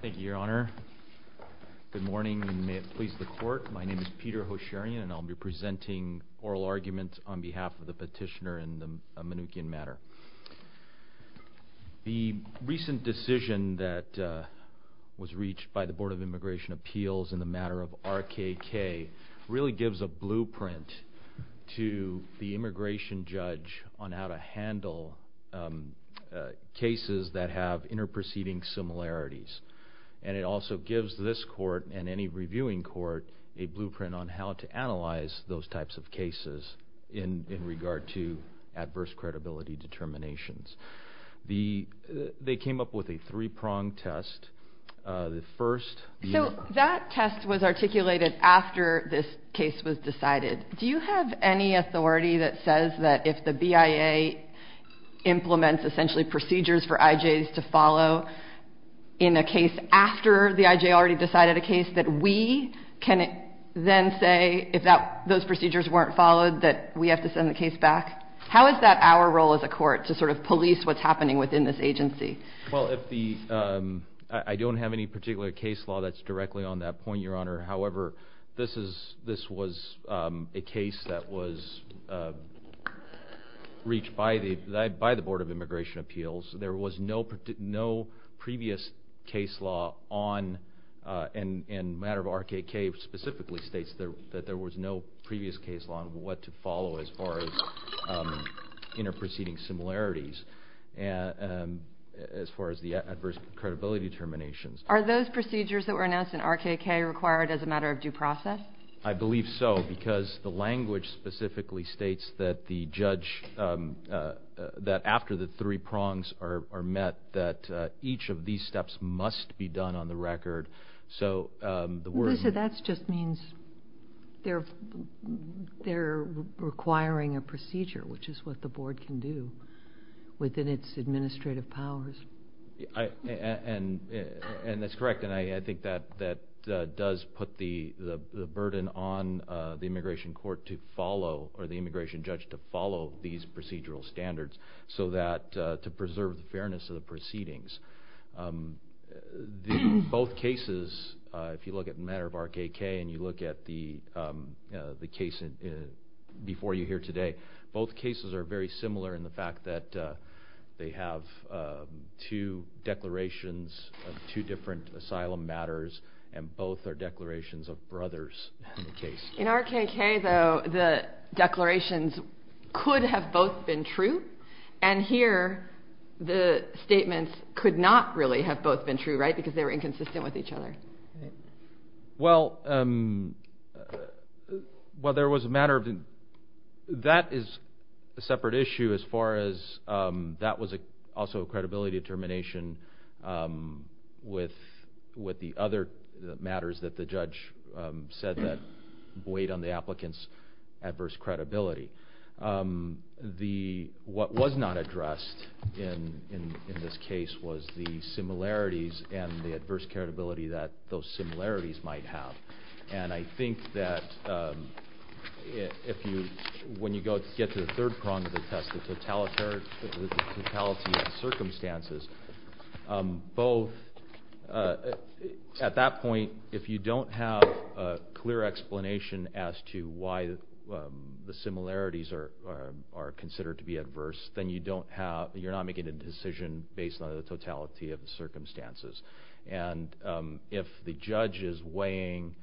Thank you, Your Honor. Good morning, and may it please the Court. My name is Peter Hosharian, and I'll be presenting oral arguments on behalf of the petitioner in the Manukyan matter. The recent decision that was reached by the Board of Immigration Appeals in the matter of RKK really gives a blueprint to the immigration judge on how to handle cases that have interproceeding similarities. And it also gives this Court and any reviewing court a blueprint on how to analyze those types of cases in regard to adverse credibility determinations. They came up with a three-pronged test. The first view... So that test was articulated after this case was decided. Do you have any authority that says that if the BIA implements, essentially, procedures for IJs to follow in a case after the IJ already decided a case, that we can then say, if those procedures weren't followed, that we have to send the case back? How is that our role as a court, to sort of police what's happening within this agency? Well, I don't have any particular case law that's directly on that point, Your Honor. However, this was a case that was reached by the Board of Immigration Appeals. There was no previous case law on, and the matter of RKK specifically states that there was no previous case law on what to follow as far as interproceeding similarities, as far as the adverse credibility determinations. Are those procedures that were announced in RKK required as a matter of due process? I believe so, because the language specifically states that after the three prongs are met, that each of these steps must be done on the record. That just means they're requiring a procedure, which is what the Board can do within its administrative powers. That's correct, and I think that does put the burden on the immigration court to follow, or the immigration judge to follow these procedural standards, to preserve the fairness of the proceedings. Both cases, if you look at the matter of RKK, and you look at the case before you here today, both cases are very similar in the fact that they have two declarations of two different asylum matters, and both are declarations of brothers in the case. In RKK, though, the declarations could have both been true, and here the statements could not really have both been true, right, because they were inconsistent with each other. Well, that is a separate issue as far as that was also a credibility determination with the other matters that the judge said that weighed on the applicant's adverse credibility. What was not addressed in this case was the similarities and the adverse credibility that those similarities might have, and I think that when you get to the third prong of the test, the totality of circumstances, both at that point, if you don't have a clear explanation as to why the similarities are considered to be adverse, then you're not making a decision based on the totality of the circumstances. And if the judge is weighing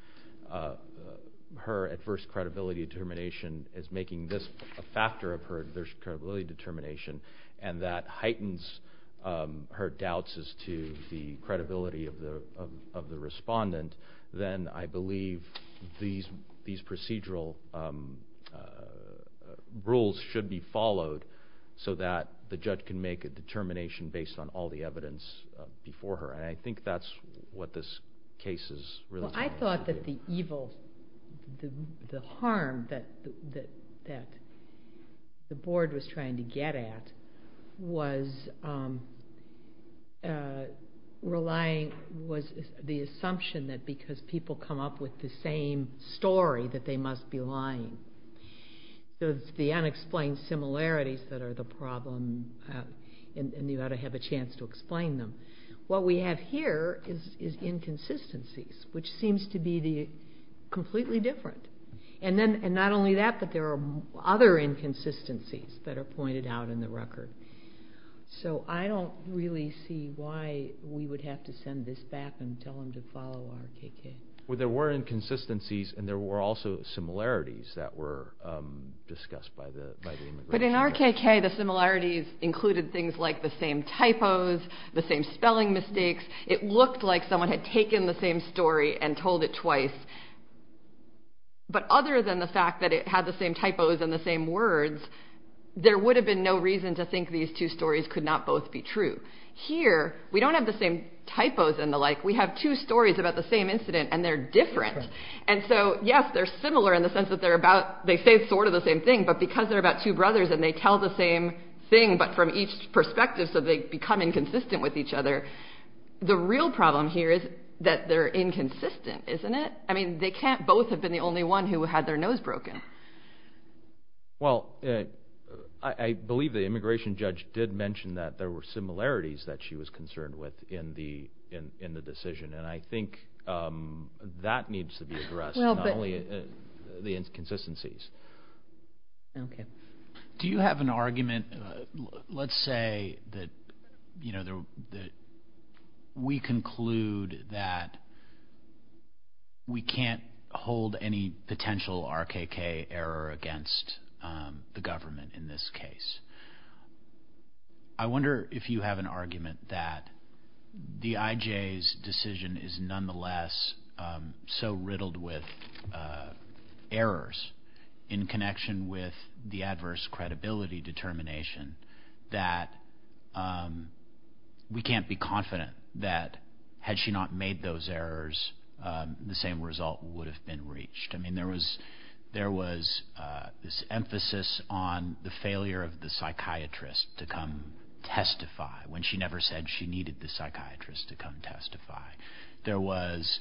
her adverse credibility determination as making this a factor of her adverse credibility determination, and that heightens her doubts as to the credibility of the respondent, then I believe these procedural rules should be followed so that the judge can make a determination based on all the evidence before her, and I think that's what this case is really trying to do. Well, I thought that the harm that the board was trying to get at was the assumption that because people come up with the same story that they must be lying. So it's the unexplained similarities that are the problem, and you ought to have a chance to explain them. What we have here is inconsistencies, which seems to be completely different. And not only that, but there are other inconsistencies that are pointed out in the record. So I don't really see why we would have to send this back and tell them to follow RKK. Well, there were inconsistencies, and there were also similarities that were discussed by the immigration court. But in RKK, the similarities included things like the same typos, the same spelling mistakes. It looked like someone had taken the same story and told it twice. But other than the fact that it had the same typos and the same words, there would have been no reason to think these two stories could not both be true. Here, we don't have the same typos and the like. We have two stories about the same incident, and they're different. And so, yes, they're similar in the sense that they say sort of the same thing, but because they're about two brothers and they tell the same thing, but from each perspective, so they become inconsistent with each other. The real problem here is that they're inconsistent, isn't it? I mean, they can't both have been the only one who had their nose broken. Well, I believe the immigration judge did mention that there were similarities that she was concerned with in the decision. And I think that needs to be addressed, not only the inconsistencies. Okay. Do you have an argument? Let's say that we conclude that we can't hold any potential RKK error against the government in this case. I wonder if you have an argument that the IJ's decision is nonetheless so riddled with errors in connection with the adverse credibility determination that we can't be confident that had she not made those errors, the same result would have been reached. I mean, there was this emphasis on the failure of the psychiatrist to come testify when she never said she needed the psychiatrist to come testify. There was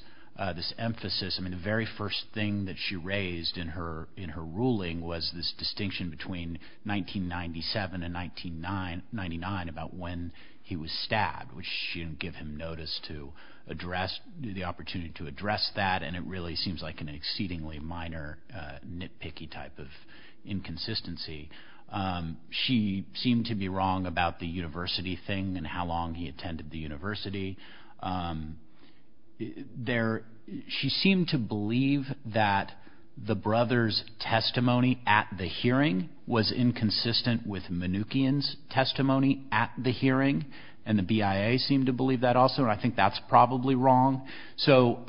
this emphasis, I mean, the very first thing that she raised in her ruling was this distinction between 1997 and 1999 about when he was stabbed, which she didn't give him notice to address, the opportunity to address that, and it really seems like an exceedingly minor nitpicky type of inconsistency. She seemed to be wrong about the university thing and how long he attended the university. She seemed to believe that the brother's testimony at the hearing was inconsistent with Mnuchin's testimony at the hearing, and the BIA seemed to believe that also, and I think that's probably wrong. So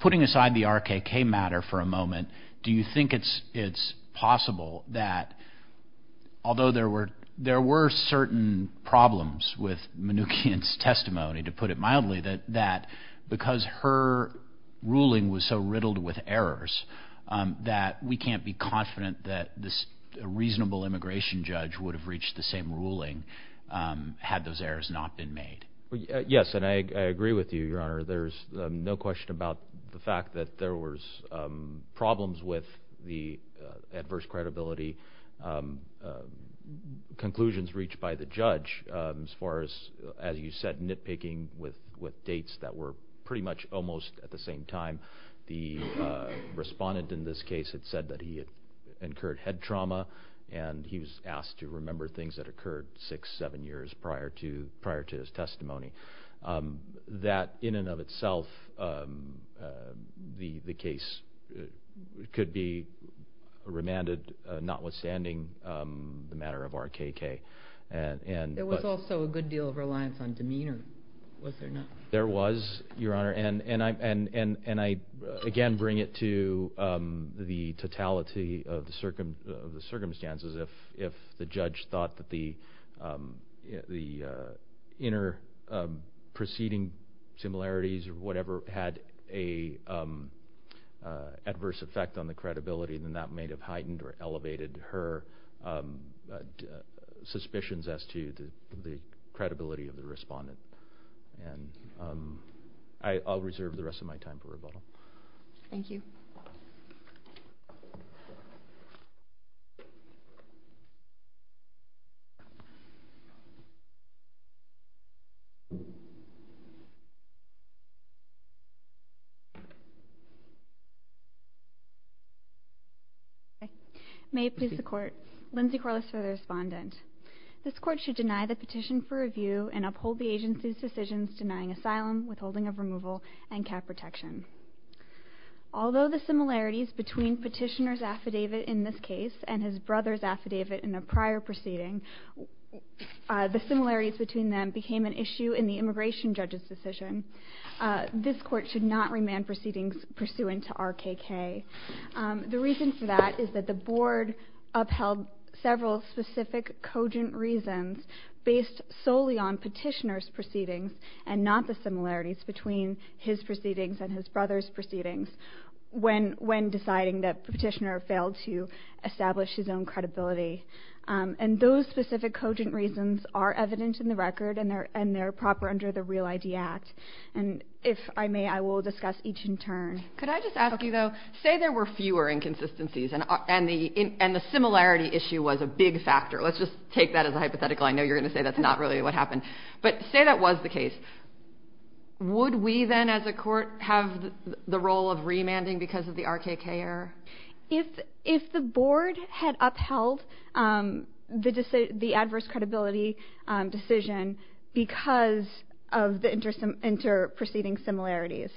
putting aside the RKK matter for a moment, do you think it's possible that although there were certain problems with Mnuchin's testimony, to put it mildly, that because her ruling was so riddled with errors that we can't be confident that a reasonable immigration judge would have reached the same ruling had those errors not been made? Yes, and I agree with you, Your Honor. There's no question about the fact that there was problems with the adverse credibility conclusions reached by the judge as far as, as you said, nitpicking with dates that were pretty much almost at the same time. The respondent in this case had said that he had incurred head trauma, and he was asked to remember things that occurred six, seven years prior to his testimony. That, in and of itself, the case could be remanded notwithstanding the matter of RKK. There was also a good deal of reliance on demeanor, was there not? There was, Your Honor, and I again bring it to the totality of the circumstances. If the judge thought that the inner proceeding similarities or whatever had an adverse effect on the credibility, then that may have heightened or elevated her suspicions as to the credibility of the respondent. And I'll reserve the rest of my time for rebuttal. Thank you. Lindsay Corliss for the respondent. This court should deny the petition for review and uphold the agency's decisions denying asylum, withholding of removal, and cap protection. Although the similarities between petitioner's affidavit in this case and his brother's affidavit in a prior proceeding, the similarities between them became an issue in the immigration judge's decision. This court should not remand proceedings pursuant to RKK. The reason for that is that the board upheld several specific cogent reasons based solely on petitioner's proceedings and not the similarities between his proceedings and his brother's proceedings when deciding that the petitioner failed to establish his own credibility. And those specific cogent reasons are evident in the record and they're proper under the REAL ID Act. And if I may, I will discuss each in turn. Could I just ask you, though, say there were fewer inconsistencies and the similarity issue was a big factor. Let's just take that as a hypothetical. I know you're going to say that's not really what happened. But say that was the case. Would we then as a court have the role of remanding because of the RKK error? If the board had upheld the adverse credibility decision because of the inter-proceeding similarities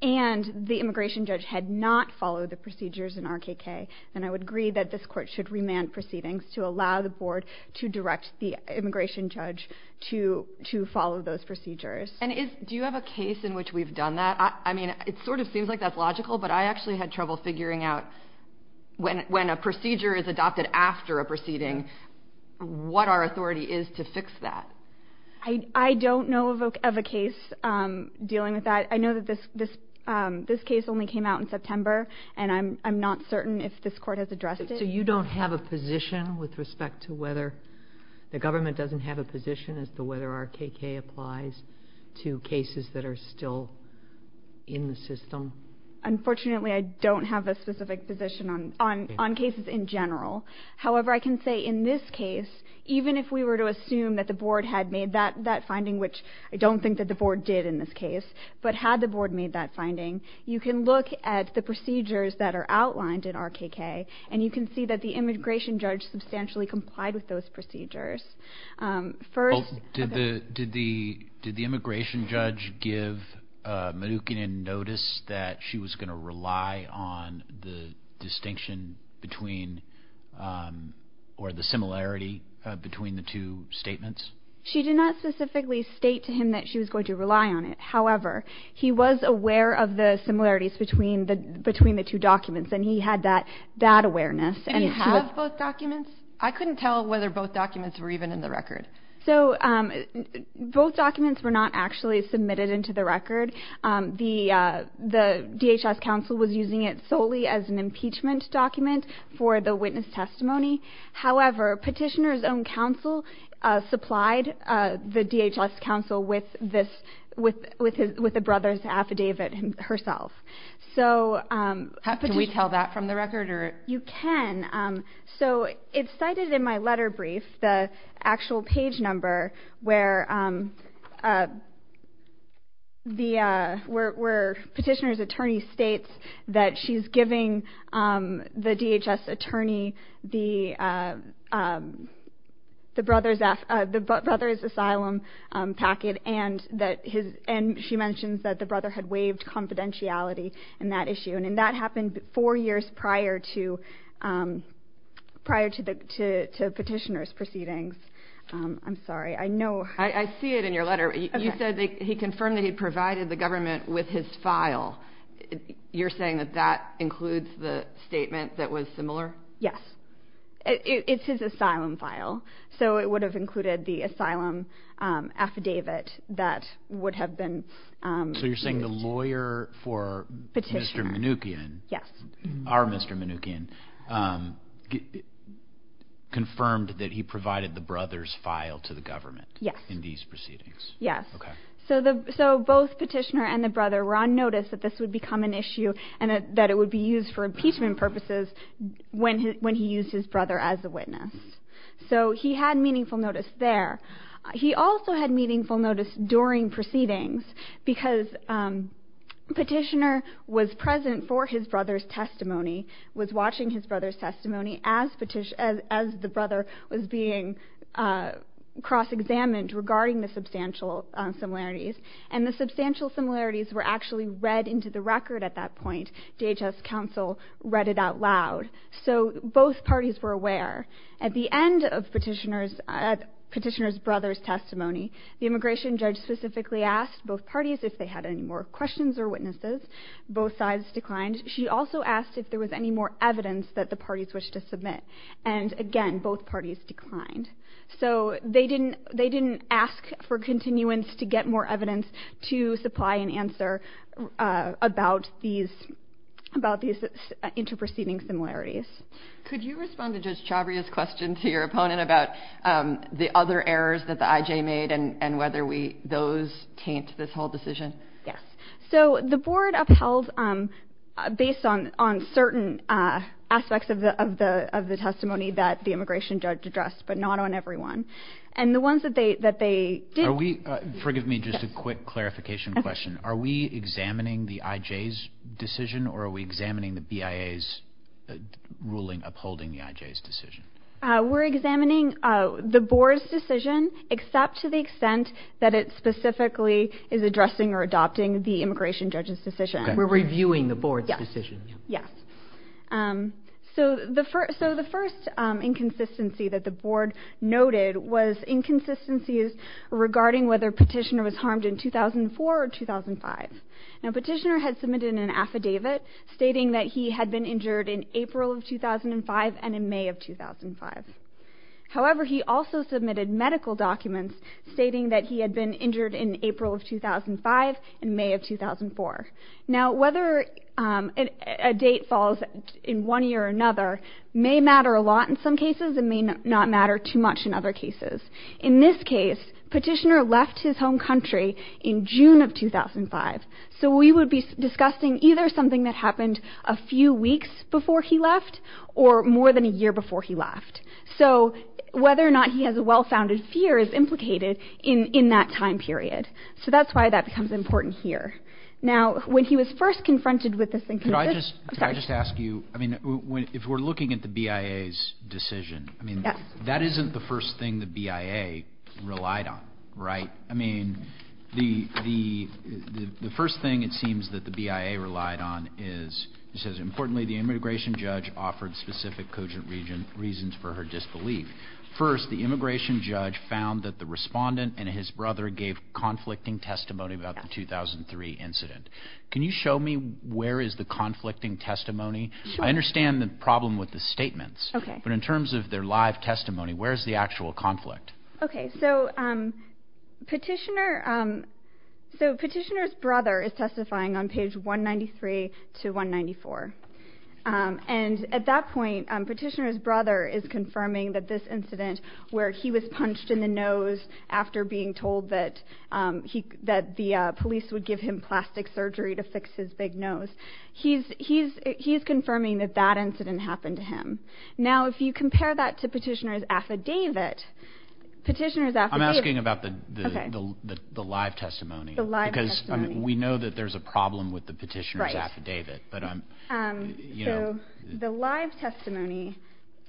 and the immigration judge had not followed the procedures in RKK, then I would agree that this court should remand proceedings to allow the board to direct the immigration judge to follow those procedures. And do you have a case in which we've done that? I mean, it sort of seems like that's logical, but I actually had trouble figuring out when a procedure is adopted after a proceeding, what our authority is to fix that. I don't know of a case dealing with that. I know that this case only came out in September, and I'm not certain if this court has addressed it. So you don't have a position with respect to whether the government doesn't have a position as to whether RKK applies to cases that are still in the system? Unfortunately, I don't have a specific position on cases in general. However, I can say in this case, even if we were to assume that the board had made that finding, which I don't think that the board did in this case, but had the board made that finding, you can look at the procedures that are outlined in RKK, and you can see that the immigration judge substantially complied with those procedures. Did the immigration judge give Mnookin notice that she was going to rely on the distinction or the similarity between the two statements? She did not specifically state to him that she was going to rely on it. However, he was aware of the similarities between the two documents, and he had that awareness. Did he have both documents? I couldn't tell whether both documents were even in the record. Both documents were not actually submitted into the record. The DHS counsel was using it solely as an impeachment document for the witness testimony. However, Petitioner's own counsel supplied the DHS counsel with the brother's affidavit herself. Can we tell that from the record? You can. It's cited in my letter brief, the actual page number, where Petitioner's attorney states that she's giving the DHS attorney the brother's asylum packet, and she mentions that the brother had waived confidentiality in that issue. That happened four years prior to Petitioner's proceedings. I'm sorry. I know. I see it in your letter. You said he confirmed that he provided the government with his file. You're saying that that includes the statement that was similar? Yes. It's his asylum file, so it would have included the asylum affidavit that would have been used. You're saying the lawyer for Mr. Mnookin, our Mr. Mnookin, confirmed that he provided the brother's file to the government in these proceedings? Yes. So both Petitioner and the brother were on notice that this would become an issue and that it would be used for impeachment purposes when he used his brother as a witness. So he had meaningful notice there. He also had meaningful notice during proceedings because Petitioner was present for his brother's testimony, was watching his brother's testimony as the brother was being cross-examined regarding the substantial similarities, and the substantial similarities were actually read into the record at that point. DHS counsel read it out loud. So both parties were aware. At the end of Petitioner's brother's testimony, the immigration judge specifically asked both parties if they had any more questions or witnesses. Both sides declined. She also asked if there was any more evidence that the parties wished to submit, and again, both parties declined. So they didn't ask for continuance to get more evidence to supply an answer about these inter-proceeding similarities. Could you respond to Judge Chavria's question to your opponent about the other errors that the IJ made and whether those taint this whole decision? Yes. So the board upheld, based on certain aspects of the testimony that the immigration judge addressed, but not on every one. And the ones that they did... Forgive me, just a quick clarification question. Are we examining the IJ's decision, or are we examining the BIA's ruling upholding the IJ's decision? We're examining the board's decision, except to the extent that it specifically is addressing or adopting the immigration judge's decision. We're reviewing the board's decision. Yes. So the first inconsistency that the board noted was inconsistencies regarding whether Petitioner was harmed in 2004 or 2005. Now, Petitioner had submitted an affidavit stating that he had been injured in April of 2005 and in May of 2005. However, he also submitted medical documents stating that he had been injured in April of 2005 and May of 2004. Now, whether a date falls in one year or another may matter a lot in some cases and may not matter too much in other cases. In this case, Petitioner left his home country in June of 2005. So we would be discussing either something that happened a few weeks before he left or more than a year before he left. So whether or not he has a well-founded fear is implicated in that time period. So that's why that becomes important here. Now, when he was first confronted with this... Could I just ask you, I mean, if we're looking at the BIA's decision, I mean, that isn't the first thing the BIA relied on, right? I mean, the first thing it seems that the BIA relied on is, it says, importantly, the immigration judge offered specific cogent reasons for her disbelief. First, the immigration judge found that the respondent and his brother gave conflicting testimony about the 2003 incident. Can you show me where is the conflicting testimony? Sure. I understand the problem with the statements. Okay. But in terms of their live testimony, where is the actual conflict? Okay, so Petitioner's brother is testifying on page 193 to 194. And at that point, Petitioner's brother is confirming that this incident, where he was punched in the nose after being told that the police would give him plastic surgery to fix his big nose, he's confirming that that incident happened to him. Now, if you compare that to Petitioner's affidavit, Petitioner's affidavit... I'm asking about the live testimony. The live testimony. Because we know that there's a problem with the Petitioner's affidavit. So the live testimony...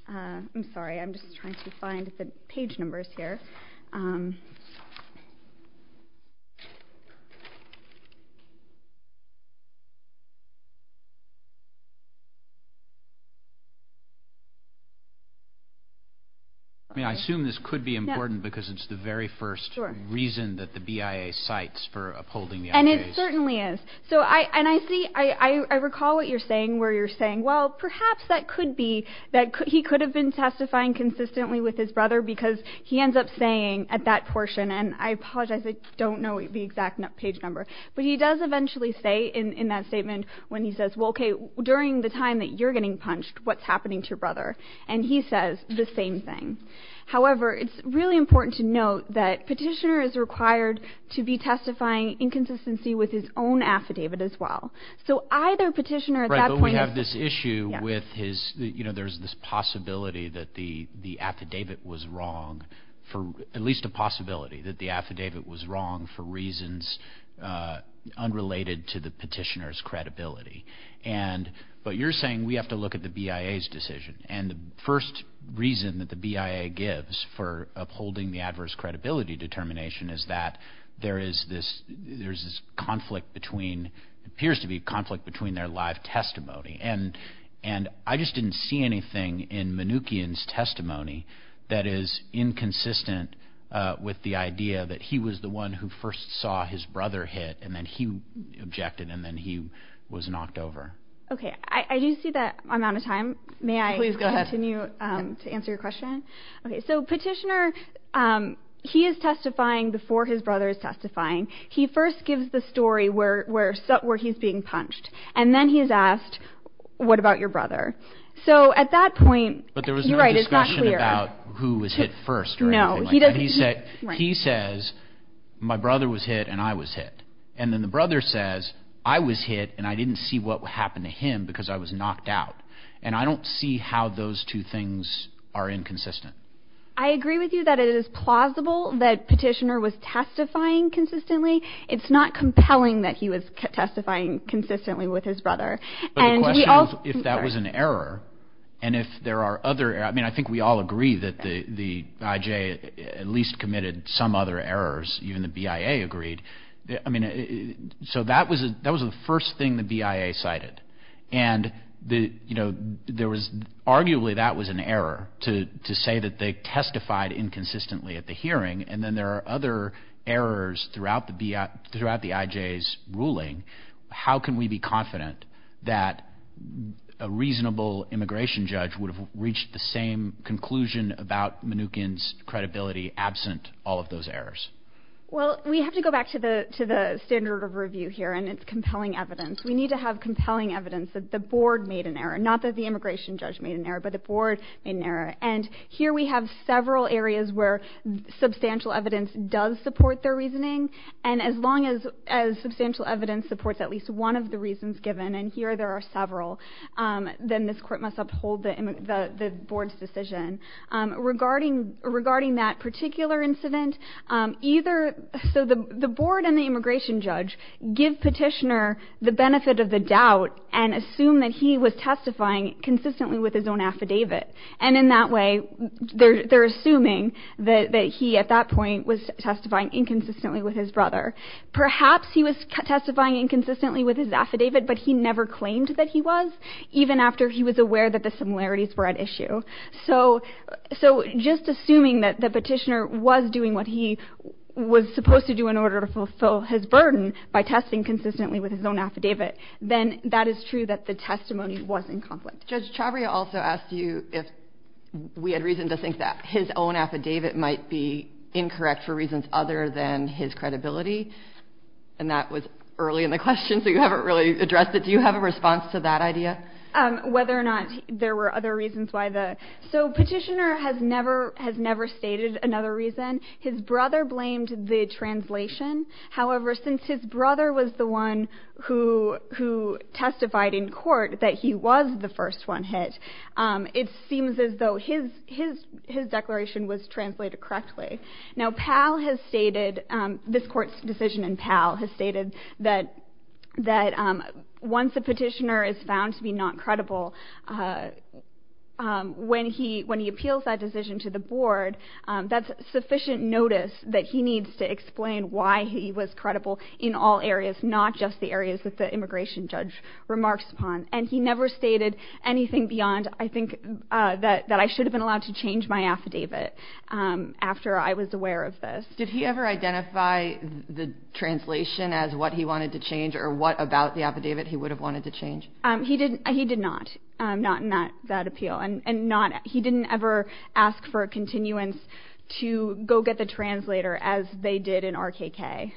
I'm sorry, I'm just trying to find the page numbers here. I mean, I assume this could be important because it's the very first reason that the BIA cites for upholding the FAA's... And it certainly is. And I recall what you're saying where you're saying, well, perhaps that could be that he could have been testifying consistently with his brother because he ends up saying at that portion, and I apologize, I don't know the exact page number, but he does eventually say in that statement when he says, well, okay, during the time that you're getting punched, what's happening to your brother? And he says the same thing. However, it's really important to note that Petitioner is required to be testifying in consistency with his own affidavit as well. So either Petitioner at that point... Right, but we have this issue with his... There's this possibility that the affidavit was wrong, at least a possibility that the affidavit was wrong for reasons unrelated to the Petitioner's credibility. But you're saying we have to look at the BIA's decision. And the first reason that the BIA gives for upholding the adverse credibility determination is that there is this conflict between, appears to be a conflict between their live testimony. And I just didn't see anything in Mnuchin's testimony that is inconsistent with the idea that he was the one who first saw his brother hit and then he objected and then he was knocked over. Okay, I do see that amount of time. May I continue to answer your question? Okay, so Petitioner, he is testifying before his brother is testifying. He first gives the story where he's being punched. And then he's asked, what about your brother? So at that point... But there was no discussion about who was hit first or anything like that. He says, my brother was hit and I was hit. And then the brother says, I was hit and I didn't see what happened to him because I was knocked out. And I don't see how those two things are inconsistent. I agree with you that it is plausible that Petitioner was testifying consistently. It's not compelling that he was testifying consistently with his brother. But the question is if that was an error and if there are other errors. I mean, I think we all agree that the IJ at least committed some other errors, even the BIA agreed. I mean, so that was the first thing the BIA cited. And arguably that was an error to say that they testified inconsistently at the hearing. And then there are other errors throughout the IJ's ruling. How can we be confident that a reasonable immigration judge would have reached the same conclusion about Mnookin's credibility absent all of those errors? Well, we have to go back to the standard of review here, and it's compelling evidence. We need to have compelling evidence that the board made an error, not that the immigration judge made an error, but the board made an error. And here we have several areas where substantial evidence does support their reasoning. And as long as substantial evidence supports at least one of the reasons given, and here there are several, then this court must uphold the board's decision. Regarding that particular incident, so the board and the immigration judge give Petitioner the benefit of the doubt and assume that he was testifying consistently with his own affidavit. And in that way, they're assuming that he at that point was testifying inconsistently with his brother. Perhaps he was testifying inconsistently with his affidavit, but he never claimed that he was, even after he was aware that the similarities were at issue. So just assuming that Petitioner was doing what he was supposed to do in order to fulfill his burden by testing consistently with his own affidavit, then that is true that the testimony was in conflict. Judge Chavria also asked you if we had reason to think that his own affidavit might be incorrect for reasons other than his credibility. And that was early in the question, so you haven't really addressed it. Do you have a response to that idea? Whether or not there were other reasons why the... So Petitioner has never stated another reason. His brother blamed the translation. However, since his brother was the one who testified in court that he was the first one hit, it seems as though his declaration was translated correctly. Now, PAL has stated, this court's decision in PAL, has stated that once a petitioner is found to be not credible, when he appeals that decision to the board, that's sufficient notice that he needs to explain why he was credible in all areas, not just the areas that the immigration judge remarks upon. And he never stated anything beyond, I think, that I should have been allowed to change my affidavit after I was aware of this. Did he ever identify the translation as what he wanted to change or what about the affidavit he would have wanted to change? He did not, not in that appeal. And he didn't ever ask for a continuance to go get the translator as they did in RKK.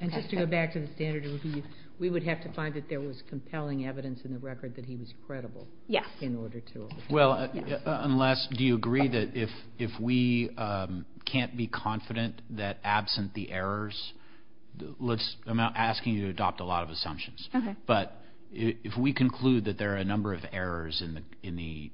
And just to go back to the standard review, we would have to find that there was compelling evidence in the record that he was credible. Yes. Well, unless do you agree that if we can't be confident that absent the errors, I'm not asking you to adopt a lot of assumptions. But if we conclude that there are a number of errors in the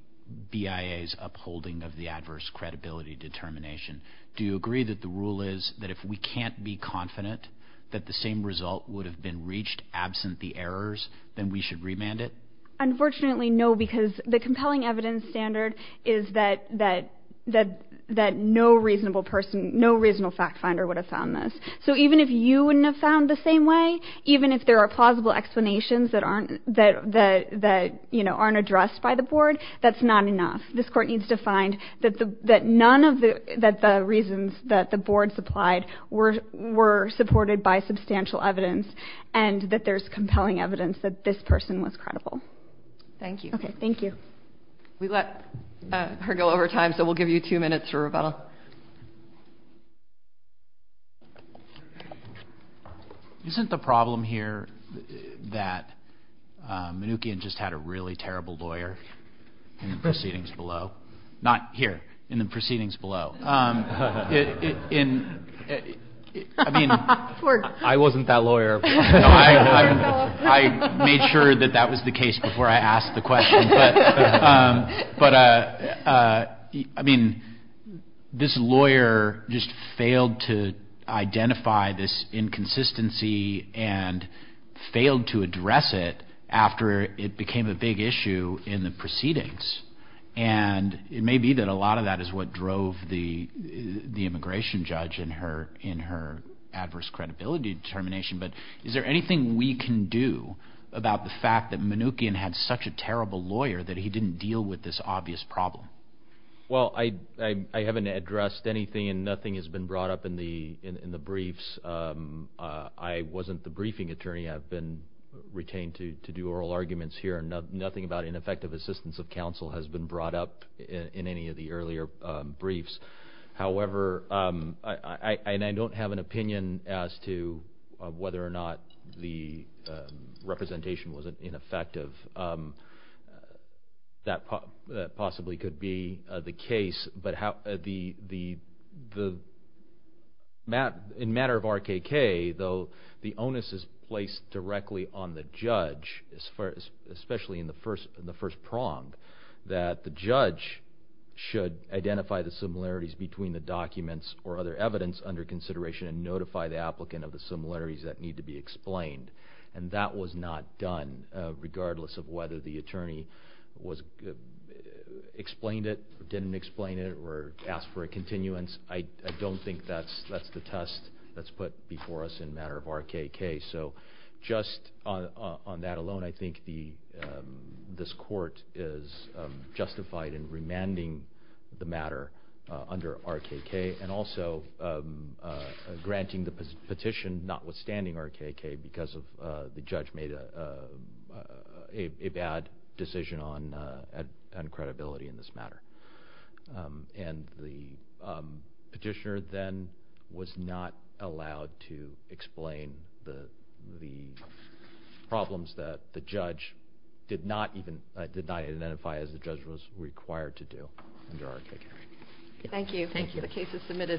BIA's upholding of the adverse credibility determination, do you agree that the rule is that if we can't be confident that the same result would have been reached absent the errors, then we should remand it? Unfortunately, no, because the compelling evidence standard is that no reasonable person, no reasonable fact finder would have found this. So even if you wouldn't have found the same way, even if there are plausible explanations that aren't addressed by the board, that's not enough. This court needs to find that none of the reasons that the board supplied were supported by substantial evidence and that there's compelling evidence that this person was credible. Thank you. Okay, thank you. We let her go over time, so we'll give you two minutes for rebuttal. Isn't the problem here that Mnookin just had a really terrible lawyer in the proceedings below? Not here, in the proceedings below. I mean, I wasn't that lawyer. I made sure that that was the case before I asked the question. But, I mean, this lawyer just failed to identify this inconsistency and failed to address it after it became a big issue in the proceedings. And it may be that a lot of that is what drove the immigration judge in her adverse credibility determination. But is there anything we can do about the fact that Mnookin had such a terrible lawyer that he didn't deal with this obvious problem? Well, I haven't addressed anything, and nothing has been brought up in the briefs. I wasn't the briefing attorney. I've been retained to do oral arguments here, and nothing about ineffective assistance of counsel has been brought up in any of the earlier briefs. However, and I don't have an opinion as to whether or not the representation was ineffective. That possibly could be the case. But in matter of RKK, though, the onus is placed directly on the judge, especially in the first prong, that the judge should identify the similarities between the documents or other evidence under consideration and notify the applicant of the similarities that need to be explained. And that was not done, regardless of whether the attorney explained it, didn't explain it, or asked for a continuance. I don't think that's the test that's put before us in matter of RKK. So just on that alone, I think this court is justified in remanding the matter under RKK and also granting the petition notwithstanding RKK because the judge made a bad decision on credibility in this matter. And the petitioner then was not allowed to explain the problems that the judge did not identify as the judge was required to do under RKK. Thank you.